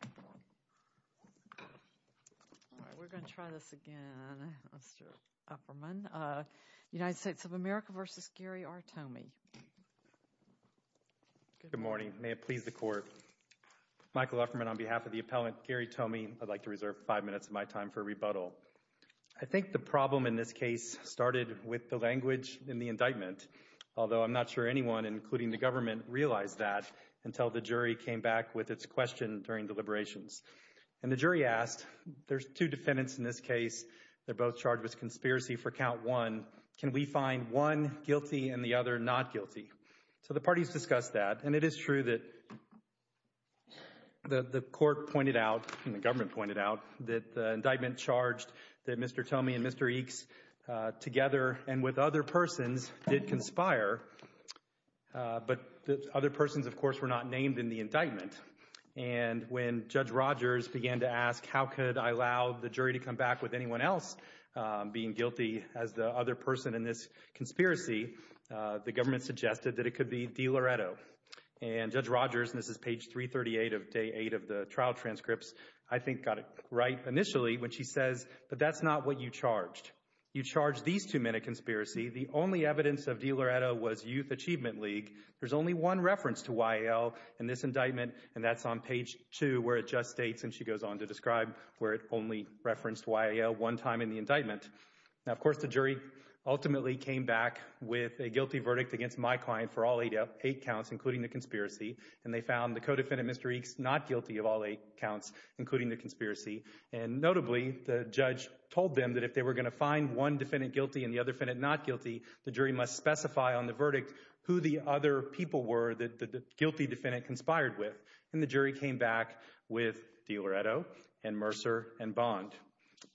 Good morning. May it please the Court. Michael Upperman on behalf of the appellant Gary Tomey, I'd like to reserve five minutes of my time for rebuttal. I think the problem in this case started with the language in the indictment, although I'm not sure anyone, including the And the jury asked, there's two defendants in this case. They're both charged with conspiracy for count one. Can we find one guilty and the other not guilty? So the parties discussed that, and it is true that the Court pointed out, and the government pointed out, that the indictment charged that Mr. Tomey and Mr. Eeks together and with other persons did conspire, but other of course were not named in the indictment. And when Judge Rogers began to ask how could I allow the jury to come back with anyone else being guilty as the other person in this conspiracy, the government suggested that it could be DiLoretto. And Judge Rogers, and this is page 338 of day eight of the trial transcripts, I think got it right initially when she says, but that's not what you charged. You charged these two men a conspiracy. The only evidence of DiLoretto was Achievement League. There's only one reference to YAL in this indictment, and that's on page two, where it just states, and she goes on to describe where it only referenced YAL one time in the indictment. Now, of course, the jury ultimately came back with a guilty verdict against my client for all eight counts, including the conspiracy, and they found the co-defendant, Mr. Eeks, not guilty of all eight counts, including the conspiracy. And notably, the judge told them that if they were going to find one defendant guilty and the other defendant not guilty, the jury must specify on the verdict who the other people were that the guilty defendant conspired with. And the jury came back with DiLoretto and Mercer and Bond.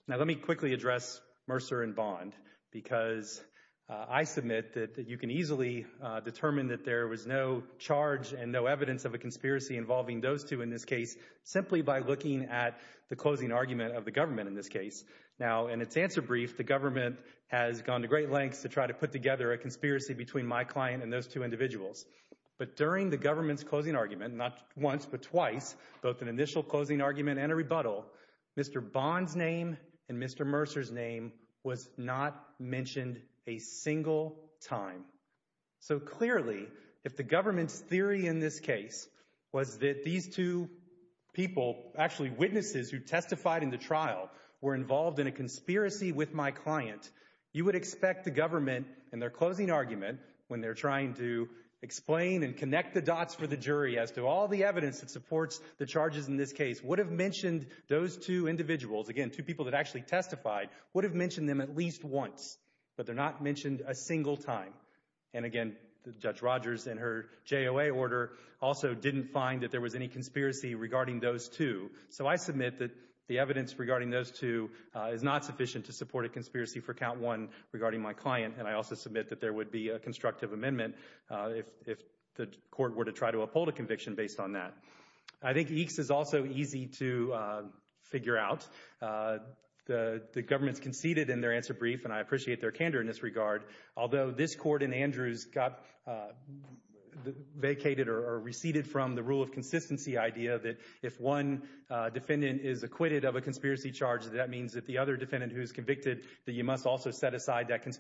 Now, let me quickly address Mercer and Bond, because I submit that you can easily determine that there was no charge and no evidence of a conspiracy involving those two in this case, simply by looking at the closing argument of the government in this case. Now, in its answer brief, the government has gone to great a conspiracy between my client and those two individuals. But during the government's closing argument, not once but twice, both an initial closing argument and a rebuttal, Mr. Bond's name and Mr. Mercer's name was not mentioned a single time. So clearly, if the government's theory in this case was that these two people, actually witnesses who testified in the trial, were when they're trying to explain and connect the dots for the jury as to all the evidence that supports the charges in this case, would have mentioned those two individuals, again, two people that actually testified, would have mentioned them at least once. But they're not mentioned a single time. And again, Judge Rogers, in her JOA order, also didn't find that there was any conspiracy regarding those two. So I submit that the evidence regarding those two is not sufficient to support a would be a constructive amendment if the court were to try to uphold a conviction based on that. I think EECS is also easy to figure out. The government's conceded in their answer brief, and I appreciate their candor in this regard. Although this court in Andrews got vacated or receded from the rule of consistency idea that if one defendant is acquitted of a conspiracy charge, that means that the other defendant who is convicted, that you must also set aside that from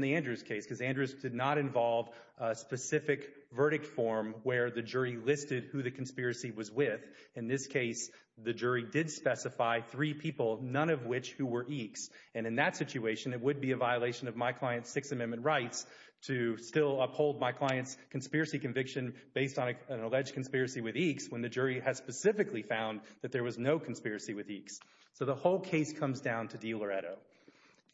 the Andrews case, because Andrews did not involve a specific verdict form where the jury listed who the conspiracy was with. In this case, the jury did specify three people, none of which who were EECS. And in that situation, it would be a violation of my client's Sixth Amendment rights to still uphold my client's conspiracy conviction based on an alleged conspiracy with EECS, when the jury has specifically found that there was no conspiracy with EECS. So the whole case comes down to DiLoretto.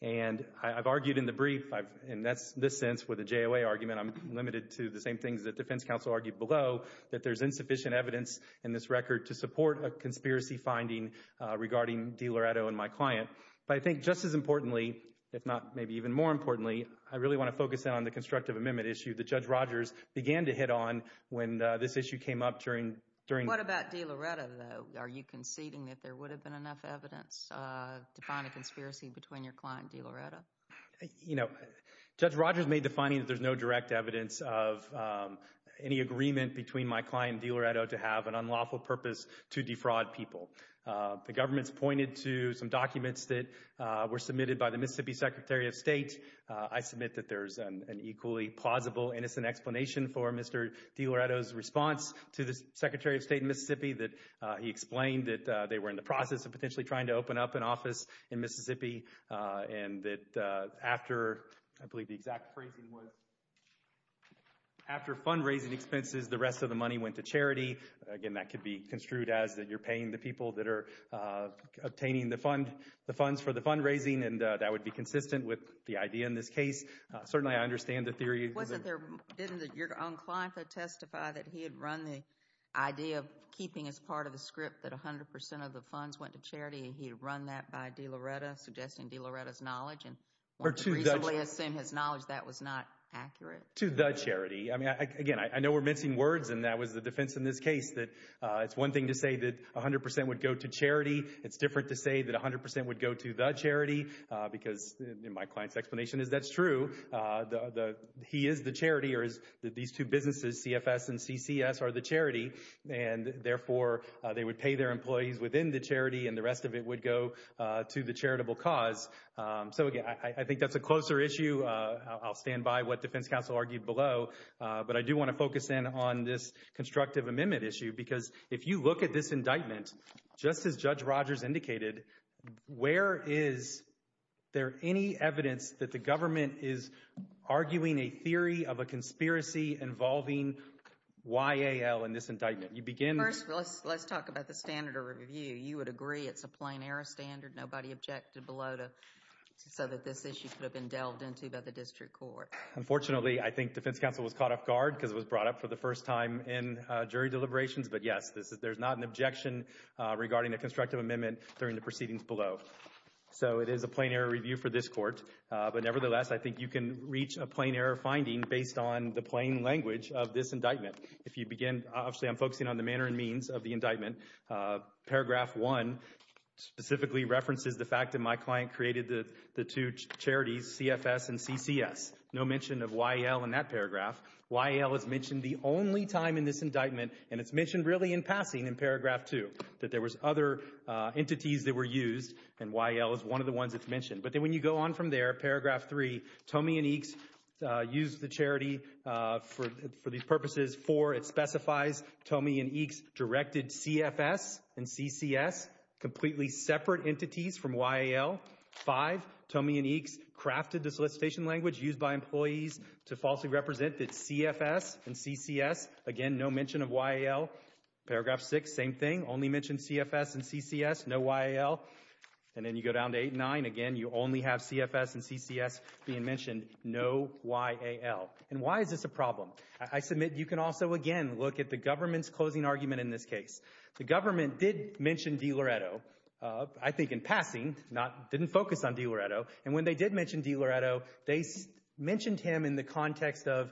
And I've argued in the brief, and that's this sense, with a JOA argument, I'm limited to the same things that defense counsel argued below, that there's insufficient evidence in this record to support a conspiracy finding regarding DiLoretto and my client. But I think just as importantly, if not maybe even more importantly, I really want to focus in on the constructive amendment issue that Judge Rogers began to hit on when this issue came up during... What about DiLoretto though? Are you conceding that there would have been enough evidence to find a conspiracy between your client DiLoretto? You know, Judge Rogers made the finding that there's no direct evidence of any agreement between my client DiLoretto to have an unlawful purpose to defraud people. The government's pointed to some documents that were submitted by the Mississippi Secretary of State. I submit that there's an equally plausible, innocent explanation for Mr. DiLoretto's response to the Secretary of were in the process of potentially trying to open up an office in Mississippi, and that after, I believe the exact phrasing was, after fundraising expenses, the rest of the money went to charity. Again, that could be construed as that you're paying the people that are obtaining the fund, the funds for the fundraising, and that would be consistent with the idea in this case. Certainly, I understand the theory... Wasn't there... Didn't your own client testify that he had run the idea of keeping as part of the script that 100% of the funds went to charity, and he had run that by DiLoretto, suggesting DiLoretto's knowledge, and wanted to reasonably assume his knowledge that was not accurate? To the charity. I mean, again, I know we're mincing words, and that was the defense in this case, that it's one thing to say that 100% would go to charity. It's different to say that 100% would go to the charity, because my client's explanation is that's true. He is the charity, or these two businesses, CFS and CCS, are the charity, and therefore, they would pay their employees within the charity, and the rest of it would go to the charitable cause. So again, I think that's a closer issue. I'll stand by what Defense Counsel argued below, but I do want to focus in on this constructive amendment issue, because if you look at this indictment, just as Judge Rogers indicated, where is there any evidence that the government is arguing a theory of a conspiracy involving YAL in this indictment? You begin... First, let's talk about the standard of review. You would agree it's a plain error standard? Nobody objected below, so that this issue could have been delved into by the district court? Unfortunately, I think Defense Counsel was caught off guard, because it was brought up for the first time in jury deliberations, but yes, there's not an objection regarding the constructive amendment during the proceedings below. So it is a plain error review for this court, but nevertheless, I think you can reach a plain error finding based on the plain language of this indictment. If you begin... Obviously, I'm focusing on the manner and means of the indictment. Paragraph 1 specifically references the fact that my client created the two charities, CFS and CCS. No mention of YAL in that paragraph. YAL is mentioned the only time in this indictment, and it's mentioned really in passing in paragraph 2, that there was other entities that were used, and YAL is one of the ones that's mentioned. But then you go on from there, paragraph 3, Tomey and Eakes used the charity for these purposes. 4, it specifies Tomey and Eakes directed CFS and CCS, completely separate entities from YAL. 5, Tomey and Eakes crafted the solicitation language used by employees to falsely represent that CFS and CCS. Again, no mention of YAL. Paragraph 6, same thing, only mentioned CFS and CCS, no YAL. And then you go down to 8 and 9. Again, you only have CFS and CCS being mentioned, no YAL. And why is this a problem? I submit you can also, again, look at the government's closing argument in this case. The government did mention DiLoretto, I think in passing, didn't focus on DiLoretto. And when they did mention DiLoretto, they mentioned him in the context of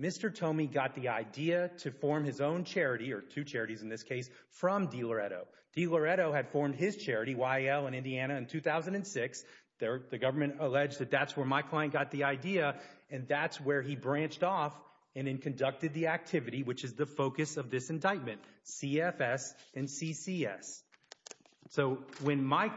Mr. Tomey got the idea to form his own charity, or two charities in this case, from DiLoretto. DiLoretto had formed his YAL in Indiana in 2006. The government alleged that that's where my client got the idea, and that's where he branched off and then conducted the activity, which is the focus of this indictment, CFS and CCS. So when my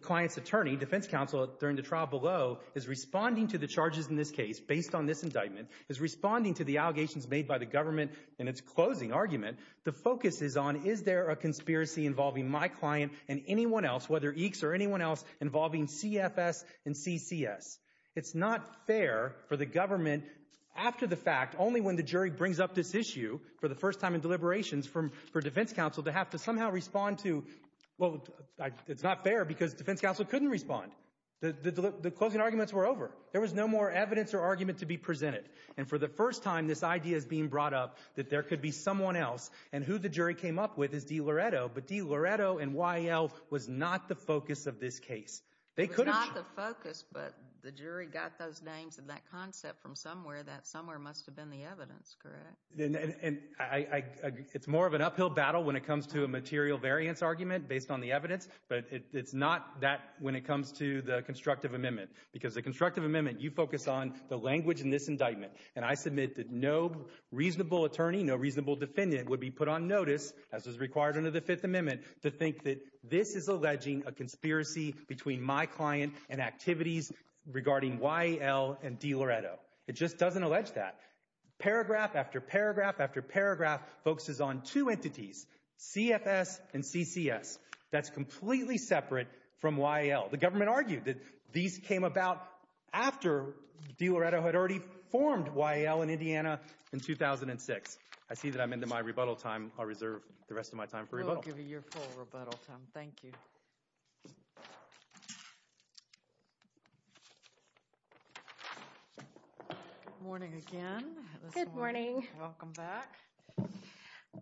client's attorney, defense counsel, during the trial below is responding to the charges in this case, based on this indictment, is responding to the allegations made by the government in its closing argument, the focus is on is there a conspiracy involving my client and anyone else, whether EECS or anyone else, involving CFS and CCS. It's not fair for the government, after the fact, only when the jury brings up this issue for the first time in deliberations from, for defense counsel, to have to somehow respond to, well, it's not fair because defense counsel couldn't respond. The closing arguments were over. There was no more evidence or argument to be presented. And for the first time, this idea is being brought up that there could be someone else, and who the jury came up with is D. Loretto, but D. Loretto and Y. L. was not the focus of this case. They could have... It was not the focus, but the jury got those names and that concept from somewhere that somewhere must have been the evidence, correct? And I, it's more of an uphill battle when it comes to a material variance argument based on the evidence, but it's not that when it comes to the constructive amendment, because the constructive amendment, you focus on the language in this would be put on notice, as is required under the Fifth Amendment, to think that this is alleging a conspiracy between my client and activities regarding Y. L. and D. Loretto. It just doesn't allege that. Paragraph after paragraph after paragraph focuses on two entities, CFS and CCS. That's completely separate from Y. L. The government argued that these came about after D. Loretto had already formed Y. L. and Indiana in 2006. I see that I'm into my rebuttal time. I'll reserve the rest of my time for rebuttal. I'll give you your full rebuttal time. Thank you. Good morning again. Good morning. Welcome back.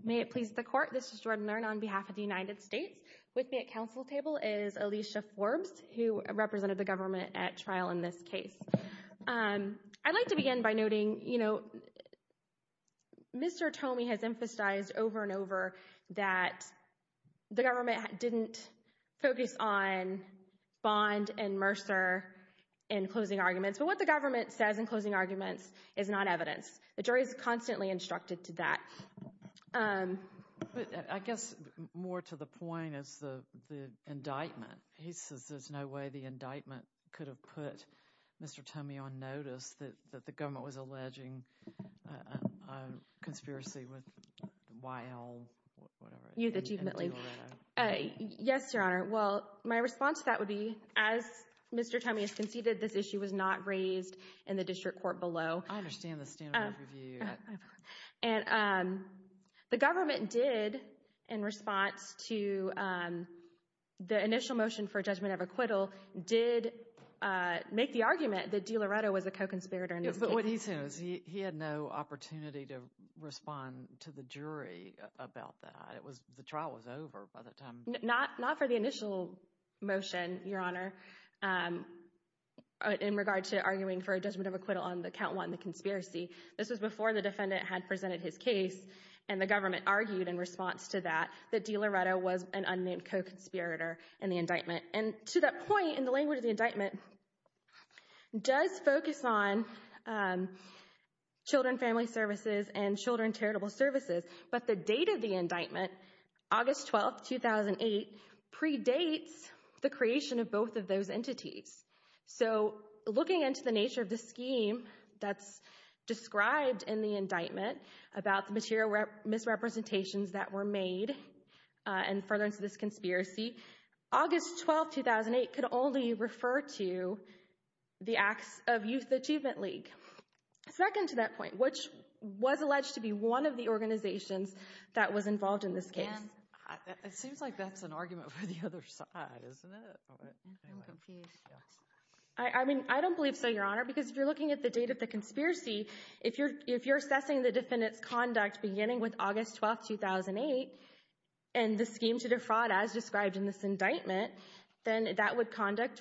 May it please the court, this is Jordan Learn on behalf of the United States. With me at council table is Alicia Forbes, who represented the government at this case. I'd like to begin by noting, you know, Mr. Tomey has emphasized over and over that the government didn't focus on Bond and Mercer in closing arguments. But what the government says in closing arguments is not evidence. The jury is constantly instructed to that. I guess more to the point is the indictment. He says there's no way the indictment could have put Mr. Tomey on notice that the government was alleging a conspiracy with Y. L. Youth Achievement League. Yes, your honor. Well, my response to that would be as Mr. Tomey has conceded this issue was not raised in the district court below. I understand the standard of review. And the government did in response to the initial motion for judgment of acquittal did make the argument that DiLoretto was a co-conspirator. But what he said was he had no opportunity to respond to the jury about that. It was the trial was over by the time. Not for the initial motion, your honor, in regard to arguing for a judgment of acquittal on the count one, the conspiracy. This was before the defendant had presented his case and the government argued in response to that that DiLoretto was an unnamed co-conspirator in the indictment. And to that in the language of the indictment does focus on children, family services and children charitable services. But the date of the indictment, August 12, 2008, predates the creation of both of those entities. So looking into the nature of the scheme that's described in the indictment about the material misrepresentations that were made and further into this conspiracy, August 12, 2008, could only refer to the acts of Youth Achievement League. Second to that point, which was alleged to be one of the organizations that was involved in this case. It seems like that's an argument for the other side, isn't it? I mean, I don't believe so, your honor, because if you're looking at the date of the conspiracy, if you're assessing the defendant's conduct beginning with August 12, 2008, and the scheme to defraud as described in this indictment, then that would conduct,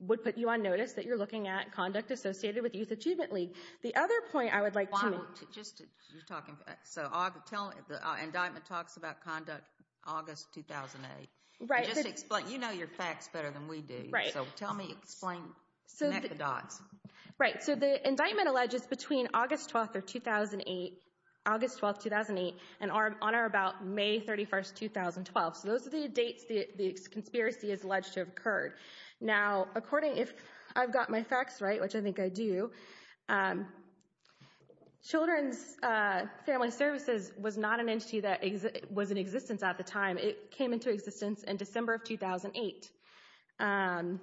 would put you on notice that you're looking at conduct associated with Youth Achievement League. The other point I would like to... Just to, you're talking, so tell, the indictment talks about conduct August 2008. Right. Just explain, you know your facts better than we do. Right. So tell me, explain, connect the dots. Right. So the indictment alleges between August 12, 2008, August 12, 2008, and on or about May 31, 2012. So those are the dates the conspiracy is alleged to have occurred. Now according, if I've got my facts right, which I think I do, Children's Family Services was not an entity that was in existence at the time. It came into existence in December of 2008. And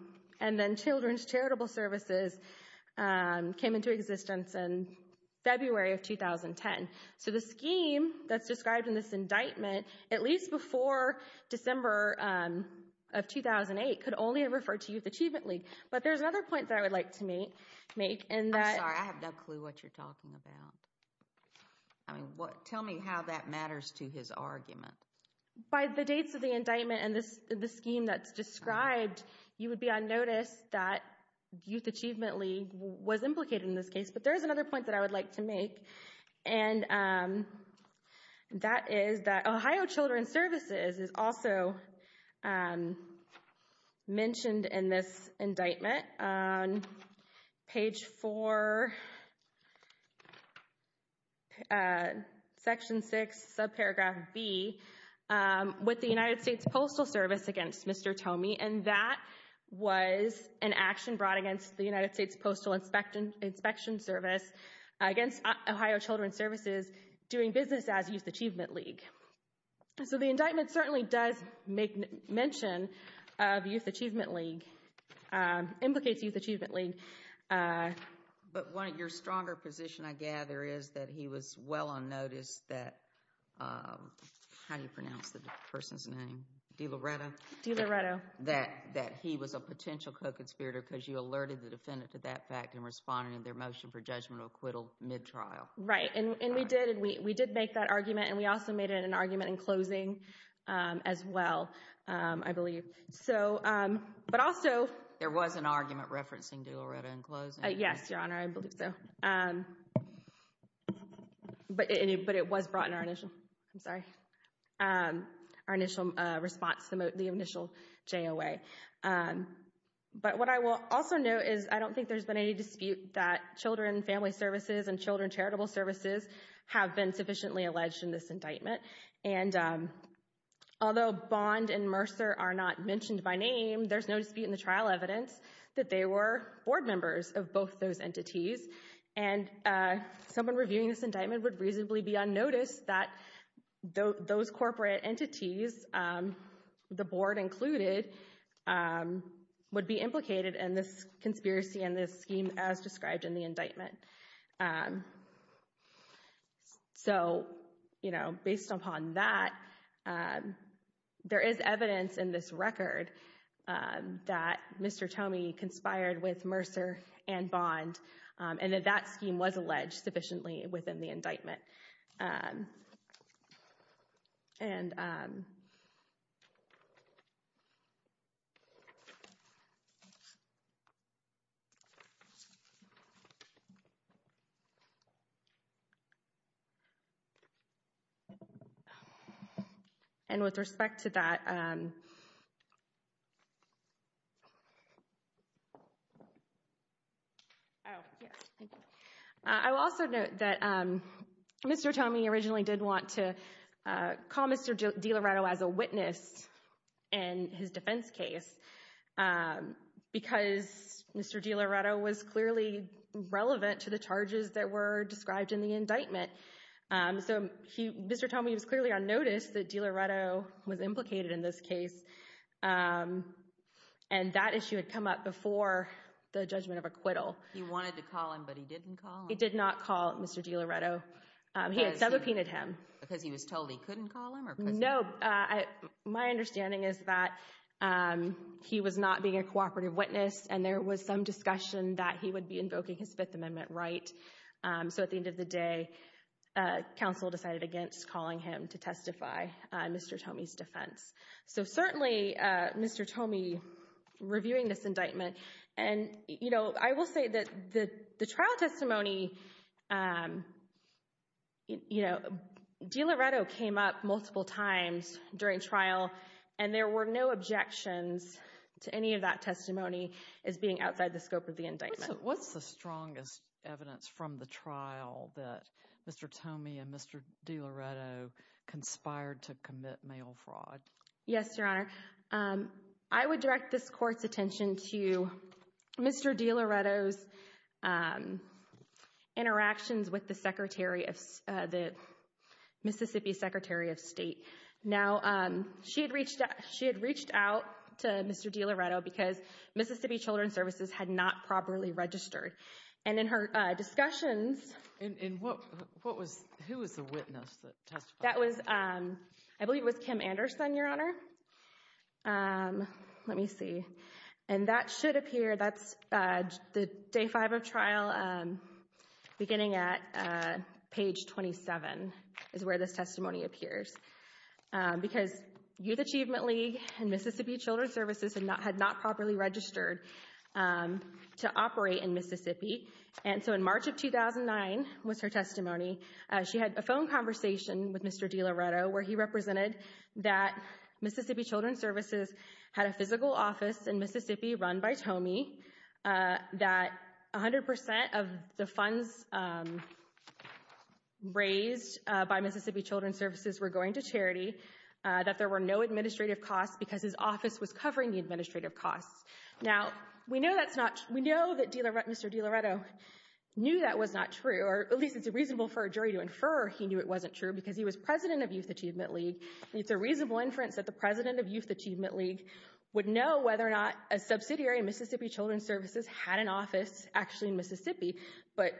then Children's Charitable Services came into existence in February of 2010. So the scheme, that's described in this indictment, at least before December of 2008, could only have referred to Youth Achievement League. But there's another point that I would like to make, and that... I'm sorry, I have no clue what you're talking about. I mean, what, tell me how that matters to his argument. By the dates of the indictment and this, the scheme that's described, you would be on notice that Youth Achievement League was implicated in this case. But there's another point that I would like to make, and that is that Ohio Children's Services is also mentioned in this indictment on page four, section six, subparagraph B, with the United States Postal Service against Mr. Tomey. And that was an action brought against the United States Postal Inspection Service against Ohio Children's Services doing business as Youth Achievement League. So the indictment certainly does make mention of Youth Achievement League, implicates Youth Achievement League. But one of your stronger position, I gather, is that he was well on notice that, how do you pronounce the person's name? DiLoretto? DiLoretto. That he was a potential co-conspirator because you alerted the defendant to that fact in responding to their motion for judgmental acquittal mid-trial. Right, and we did make that argument, and we also made an argument in closing as well, I believe. So, but also... There was an argument referencing DiLoretto in closing? Yes, Your Honor, I believe so. But it was brought in our initial, I'm sorry, our initial response, the initial JOA. But what I will also note is I don't think there's been any dispute that Children and Family Services and Children Charitable Services have been sufficiently alleged in this indictment. And although Bond and Mercer are not mentioned by those entities, and someone reviewing this indictment would reasonably be unnoticed, that those corporate entities, the board included, would be implicated in this conspiracy and this scheme as described in the indictment. So, you know, based upon that, there is evidence in this record that Mr. Tomey conspired with Mercer and Bond, and that that scheme was alleged sufficiently within the indictment. And with respect to that... Oh, yes, thank you. I will also note that Mr. Tomey originally did want to call Mr. DiLoretto as a witness in his defense case because Mr. DiLoretto was clearly relevant to the charges that were described in the indictment. So, Mr. Tomey was clearly unnoticed that DiLoretto was implicated in this case, and that issue had come up before the judgment of acquittal. He wanted to call him, but he didn't call him? He did not call Mr. DiLoretto. He had subpoenaed him. Because he was told he couldn't call him? No, my understanding is that he was not being a cooperative witness, and there was some discussion that he would be invoking his Fifth Mr. Tomey's defense. So certainly, Mr. Tomey reviewing this indictment, and, you know, I will say that the trial testimony, you know, DiLoretto came up multiple times during trial, and there were no objections to any of that testimony as being outside the scope of the indictment. What's the strongest evidence from the trial that Mr. Tomey and Mr. DiLoretto conspired to commit mail fraud? Yes, Your Honor, I would direct this court's attention to Mr. DiLoretto's interactions with the Secretary of State, the Mississippi Secretary of State. Now, she had reached out to Mr. DiLoretto because Mississippi Children's Services had not properly registered. And in her discussions... And who was the witness that testified? That was, I believe it was Kim Anderson, Your Honor. Let me see. And that should appear, that's the day five of trial, beginning at page 27, is where this testimony appears. Because Youth in Mississippi. And so in March of 2009 was her testimony. She had a phone conversation with Mr. DiLoretto, where he represented that Mississippi Children's Services had a physical office in Mississippi run by Tomey, that 100% of the funds raised by Mississippi Children's Services were going to charity, that there were no administrative costs because his office was covering the Mr. DiLoretto knew that was not true, or at least it's reasonable for a jury to infer he knew it wasn't true because he was president of Youth Achievement League. It's a reasonable inference that the president of Youth Achievement League would know whether or not a subsidiary of Mississippi Children's Services had an office actually in Mississippi. But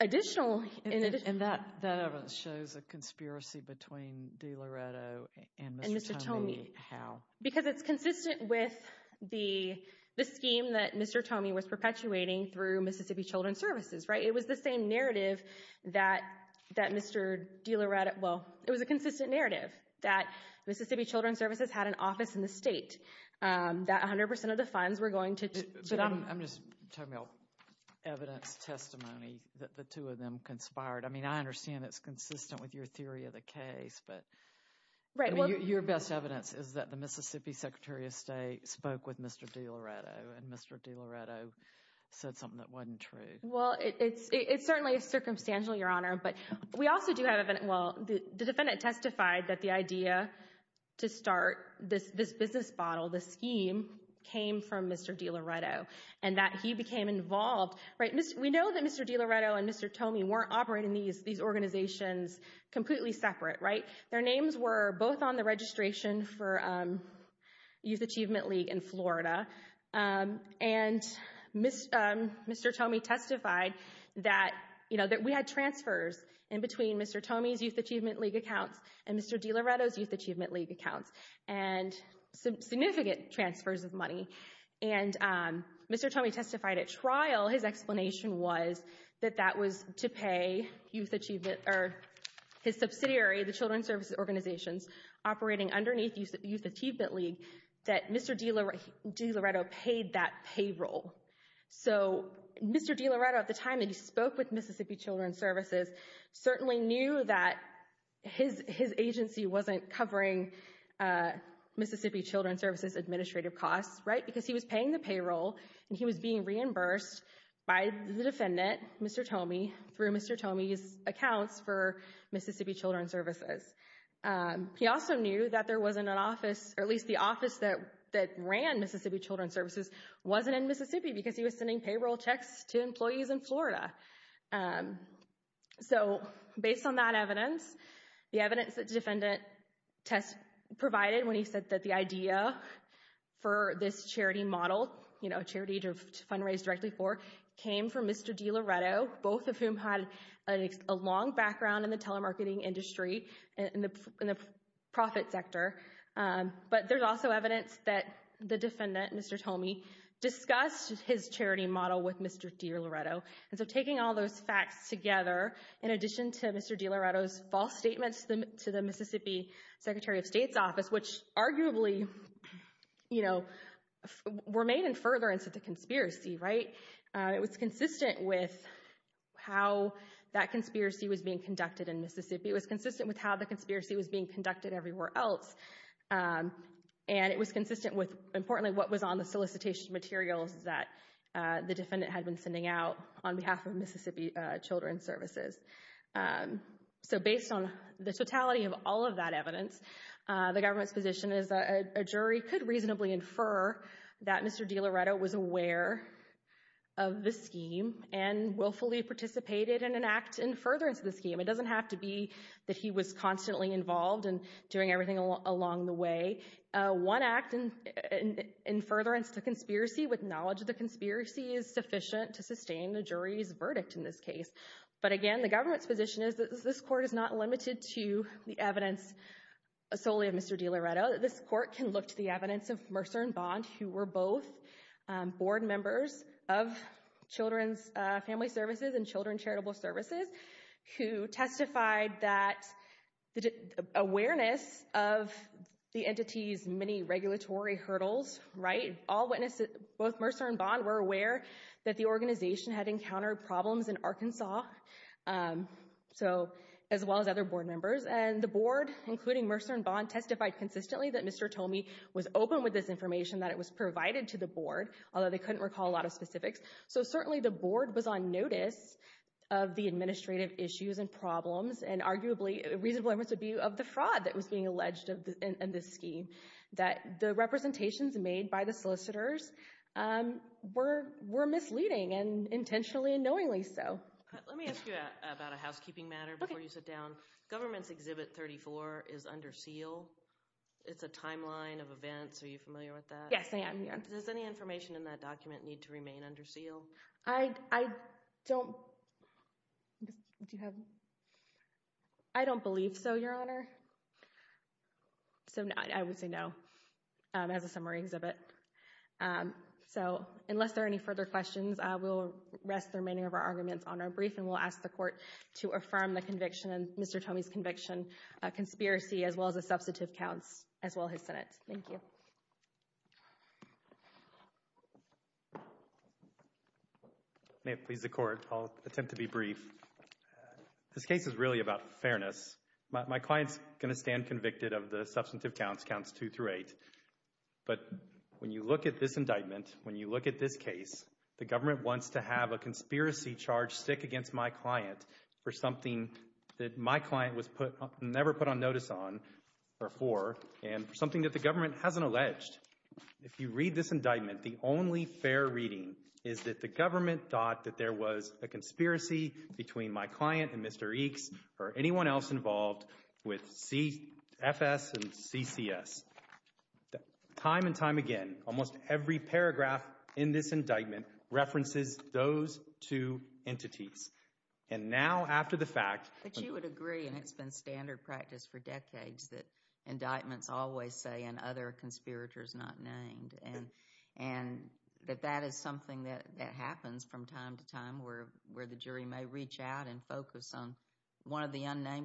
additional... And that evidence shows a conspiracy between DiLoretto and Mr. Tomey. And Mr. Tomey. How? Because it's perpetuating through Mississippi Children's Services, right? It was the same narrative that that Mr. DiLoretto... Well, it was a consistent narrative that Mississippi Children's Services had an office in the state, that 100% of the funds were going to... I'm just talking about evidence testimony that the two of them conspired. I mean, I understand it's consistent with your theory of the case, but your best evidence is that the Mississippi Secretary of State spoke with Mr. DiLoretto and Mr. DiLoretto said something that wasn't true. Well, it's certainly circumstantial, Your Honor, but we also do have... Well, the defendant testified that the idea to start this business model, this scheme, came from Mr. DiLoretto and that he became involved. We know that Mr. DiLoretto and Mr. Tomey weren't operating these organizations completely separate, right? Their names were both on the registration for Youth Achievement League in Florida and Mr. Tomey testified that we had transfers in between Mr. Tomey's Youth Achievement League accounts and Mr. DiLoretto's Youth Achievement League accounts and some significant transfers of money. And Mr. Tomey testified at trial. His explanation was that that was to pay Youth Achievement or his subsidiary, the Children's Services Organizations, operating underneath Youth Achievement League, that Mr. DiLoretto paid that payroll. So Mr. DiLoretto at the time that he spoke with Mississippi Children's Services certainly knew that his agency wasn't covering Mississippi Children's Services administrative costs, right? Because he was paying the payroll and he was being reimbursed by the defendant, Mr. Tomey, through Mr. Tomey's accounts for Mississippi Children's Services. He also knew that there wasn't an office or at least the office that that ran Mississippi Children's Services wasn't in Mississippi because he was sending payroll checks to employees in Florida. So based on that evidence, the evidence that the defendant provided when he said that the came from Mr. DiLoretto, both of whom had a long background in the telemarketing industry and the profit sector. But there's also evidence that the defendant, Mr. Tomey, discussed his charity model with Mr. DiLoretto. And so taking all those facts together, in addition to Mr. DiLoretto's false statements to the Mississippi Secretary of State's office, which arguably, you know, were made in furtherance of the conspiracy, right? It was consistent with how that conspiracy was being conducted in Mississippi. It was consistent with how the conspiracy was being conducted everywhere else. And it was consistent with, importantly, what was on the solicitation materials that the defendant had been sending out on behalf of Mississippi Children's Services. So based on the totality of all of that evidence, the government's position is that a jury could reasonably infer that Mr. DiLoretto was aware of the scheme and willfully participated in an act in furtherance of the scheme. It doesn't have to be that he was constantly involved and doing everything along the way. One act in furtherance to conspiracy with knowledge of the conspiracy is sufficient to sustain the jury's verdict in this case. But again, the government's position is that this court is not limited to the evidence solely of Mr. DiLoretto. This court can look to the evidence of Mercer and Bond, who were both board members of Children's Family Services and Children's Charitable Services, who testified that the awareness of the entity's regulatory hurdles. Both Mercer and Bond were aware that the organization had encountered problems in Arkansas, as well as other board members. And the board, including Mercer and Bond, testified consistently that Mr. Tomey was open with this information, that it was provided to the board, although they couldn't recall a lot of specifics. So certainly the board was on notice of the administrative issues and problems and arguably reasonable evidence would be of the the representations made by the solicitors were misleading and intentionally and knowingly so. Let me ask you about a housekeeping matter before you sit down. Government's Exhibit 34 is under seal. It's a timeline of events. Are you familiar with that? Yes, I am. Does any information in that document need to remain under seal? I don't believe so, Your Honor. So I would say no. As a summary exhibit. So unless there are any further questions, we'll rest the remaining of our arguments on our brief and we'll ask the court to affirm the conviction and Mr. Tomey's conviction, a conspiracy, as well as the substantive counts, as well as Senate. Thank you. May it please the court, I'll attempt to be brief. This case is really about fairness. My client's going to stand convicted of the substantive counts, counts two through eight. But when you look at this indictment, when you look at this case, the government wants to have a conspiracy charge stick against my client for something that my client was never put on notice on or for and something that the government hasn't alleged. If you read this indictment, the only fair reading is that the government thought that there was a conspiracy between my client and Mr. Tomey. There was nothing else involved with CFS and CCS. Time and time again, almost every paragraph in this indictment references those two entities. And now after the fact. But you would agree and it's been standard practice for decades that indictments always say and other conspirators not named and and that that is something that that happens from time to time where where the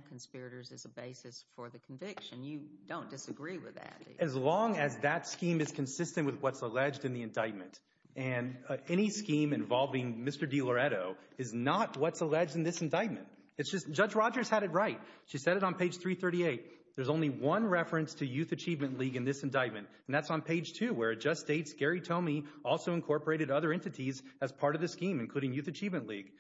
conspirators is a basis for the conviction. You don't disagree with that. As long as that scheme is consistent with what's alleged in the indictment and any scheme involving Mr. DiLoretto is not what's alleged in this indictment. It's just Judge Rogers had it right. She said it on page 338. There's only one reference to Youth Achievement League in this indictment, and that's on page two where it just states Gary Tomey also incorporated other entities as part of the scheme, including Youth Achievement League.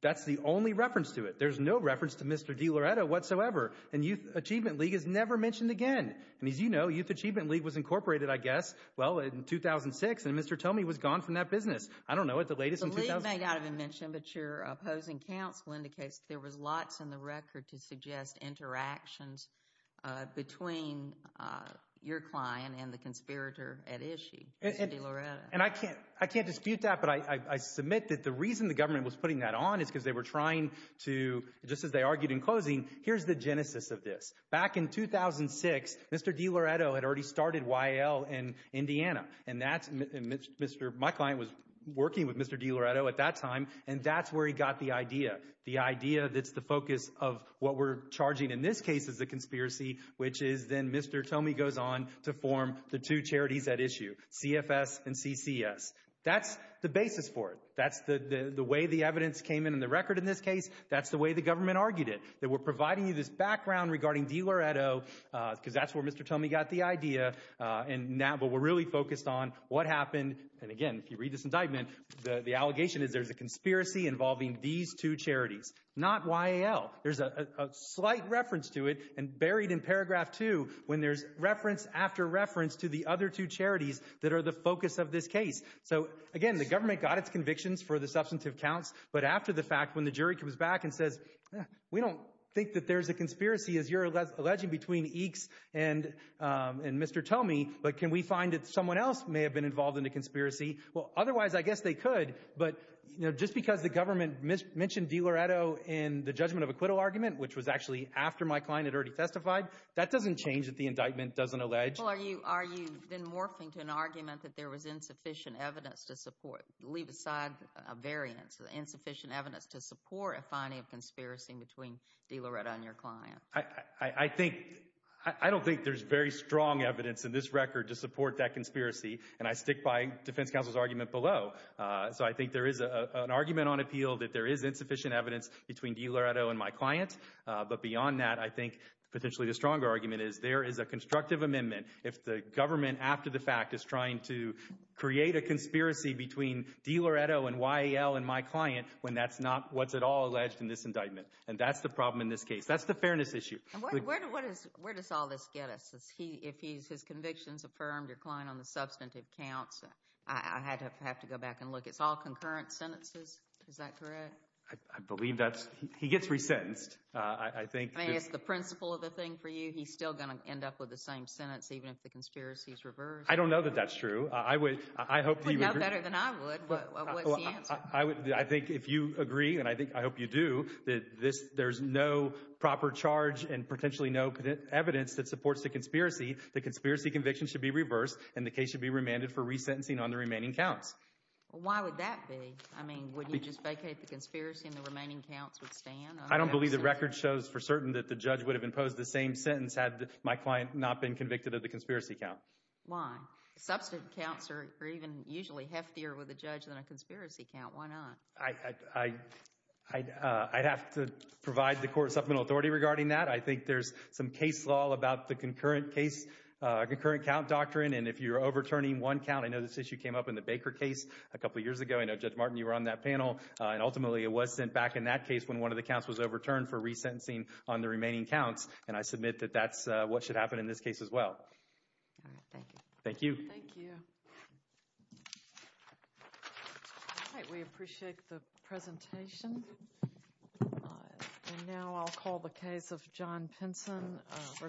That's the only reference to it. There's no reference to Mr. DiLoretto whatsoever. And Youth Achievement League is never mentioned again. And as you know, Youth Achievement League was incorporated, I guess, well in 2006. And Mr. Tomey was gone from that business. I don't know what the latest in 2000. The league may not have been mentioned, but your opposing counsel indicates there was lots in the record to suggest interactions between your client and the conspirator at issue, Mr. DiLoretto. And I can't dispute that, but I submit that the reason the government was putting that on is because they were trying to, just as they argued in closing, here's the genesis of this. Back in 2006, Mr. DiLoretto had already started YAL in Indiana, and my client was working with Mr. DiLoretto at that time, and that's where he got the idea. The idea that's the focus of what we're charging in this case is the conspiracy, which is then Mr. Tomey goes on to form the two CCS. That's the basis for it. That's the the way the evidence came in in the record in this case. That's the way the government argued it. That we're providing you this background regarding DiLoretto, because that's where Mr. Tomey got the idea. And now, but we're really focused on what happened. And again, if you read this indictment, the the allegation is there's a conspiracy involving these two charities, not YAL. There's a slight reference to it, and buried in paragraph two, when there's reference after reference to the other two charities that are the focus of this case. So again, the government got its convictions for the substantive counts, but after the fact, when the jury comes back and says, we don't think that there's a conspiracy as you're alleging between EECS and Mr. Tomey, but can we find that someone else may have been involved in a conspiracy? Well, otherwise I guess they could, but you know, just because the government mentioned DiLoretto in the judgment of acquittal argument, which was actually after my client had already testified, that doesn't change that the indictment doesn't allege. Well, are you then morphing to an argument that there was insufficient evidence to support, leave aside a variance, insufficient evidence to support a finding of conspiracy between DiLoretto and your client? I think, I don't think there's very strong evidence in this record to support that conspiracy, and I stick by defense counsel's argument below. So I think there is an argument on appeal that there is insufficient evidence between DiLoretto and my client, but beyond that, I think potentially the stronger argument is there is a constructive amendment if the government, after the fact, is trying to create a conspiracy between DiLoretto and YAL and my client when that's not what's at all alleged in this indictment, and that's the problem in this case. That's the fairness issue. Where does all this get us? If his convictions affirmed, your client on the substantive counts, I have to go back and look. It's all concurrent sentences, is that correct? I believe that he gets resentenced. I think it's the principle of the thing for you. He's still going to end up with the same sentence even if the conspiracy is reversed. I don't know that that's true. I would, I hope you know better than I would. What's the answer? I would, I think if you agree, and I think, I hope you do, that this, there's no proper charge and potentially no evidence that supports the conspiracy. The conspiracy conviction should be reversed and the case should be remanded for resentencing on the remaining counts. Why would that be? I mean, would you just vacate the conspiracy and the remaining counts would stand? I don't believe the record shows for certain that the judge would have imposed the same sentence had my client not been convicted of the conspiracy count. Why? Substantive counts are even usually heftier with a judge than a conspiracy count. Why not? I'd have to provide the court supplemental authority regarding that. I think there's some case law about the concurrent case, concurrent count doctrine, and if you're overturning one count, I know this issue came up in the Baker case a couple years ago. I know, Judge Martin, you were on that panel, and ultimately it was sent back in that case when one of the counts was overturned for resentencing on the remaining counts, and I submit that that's what should happen in this case as well. Thank you. Thank you. All right, we appreciate the presentation, and now I'll call the case of John Pinson versus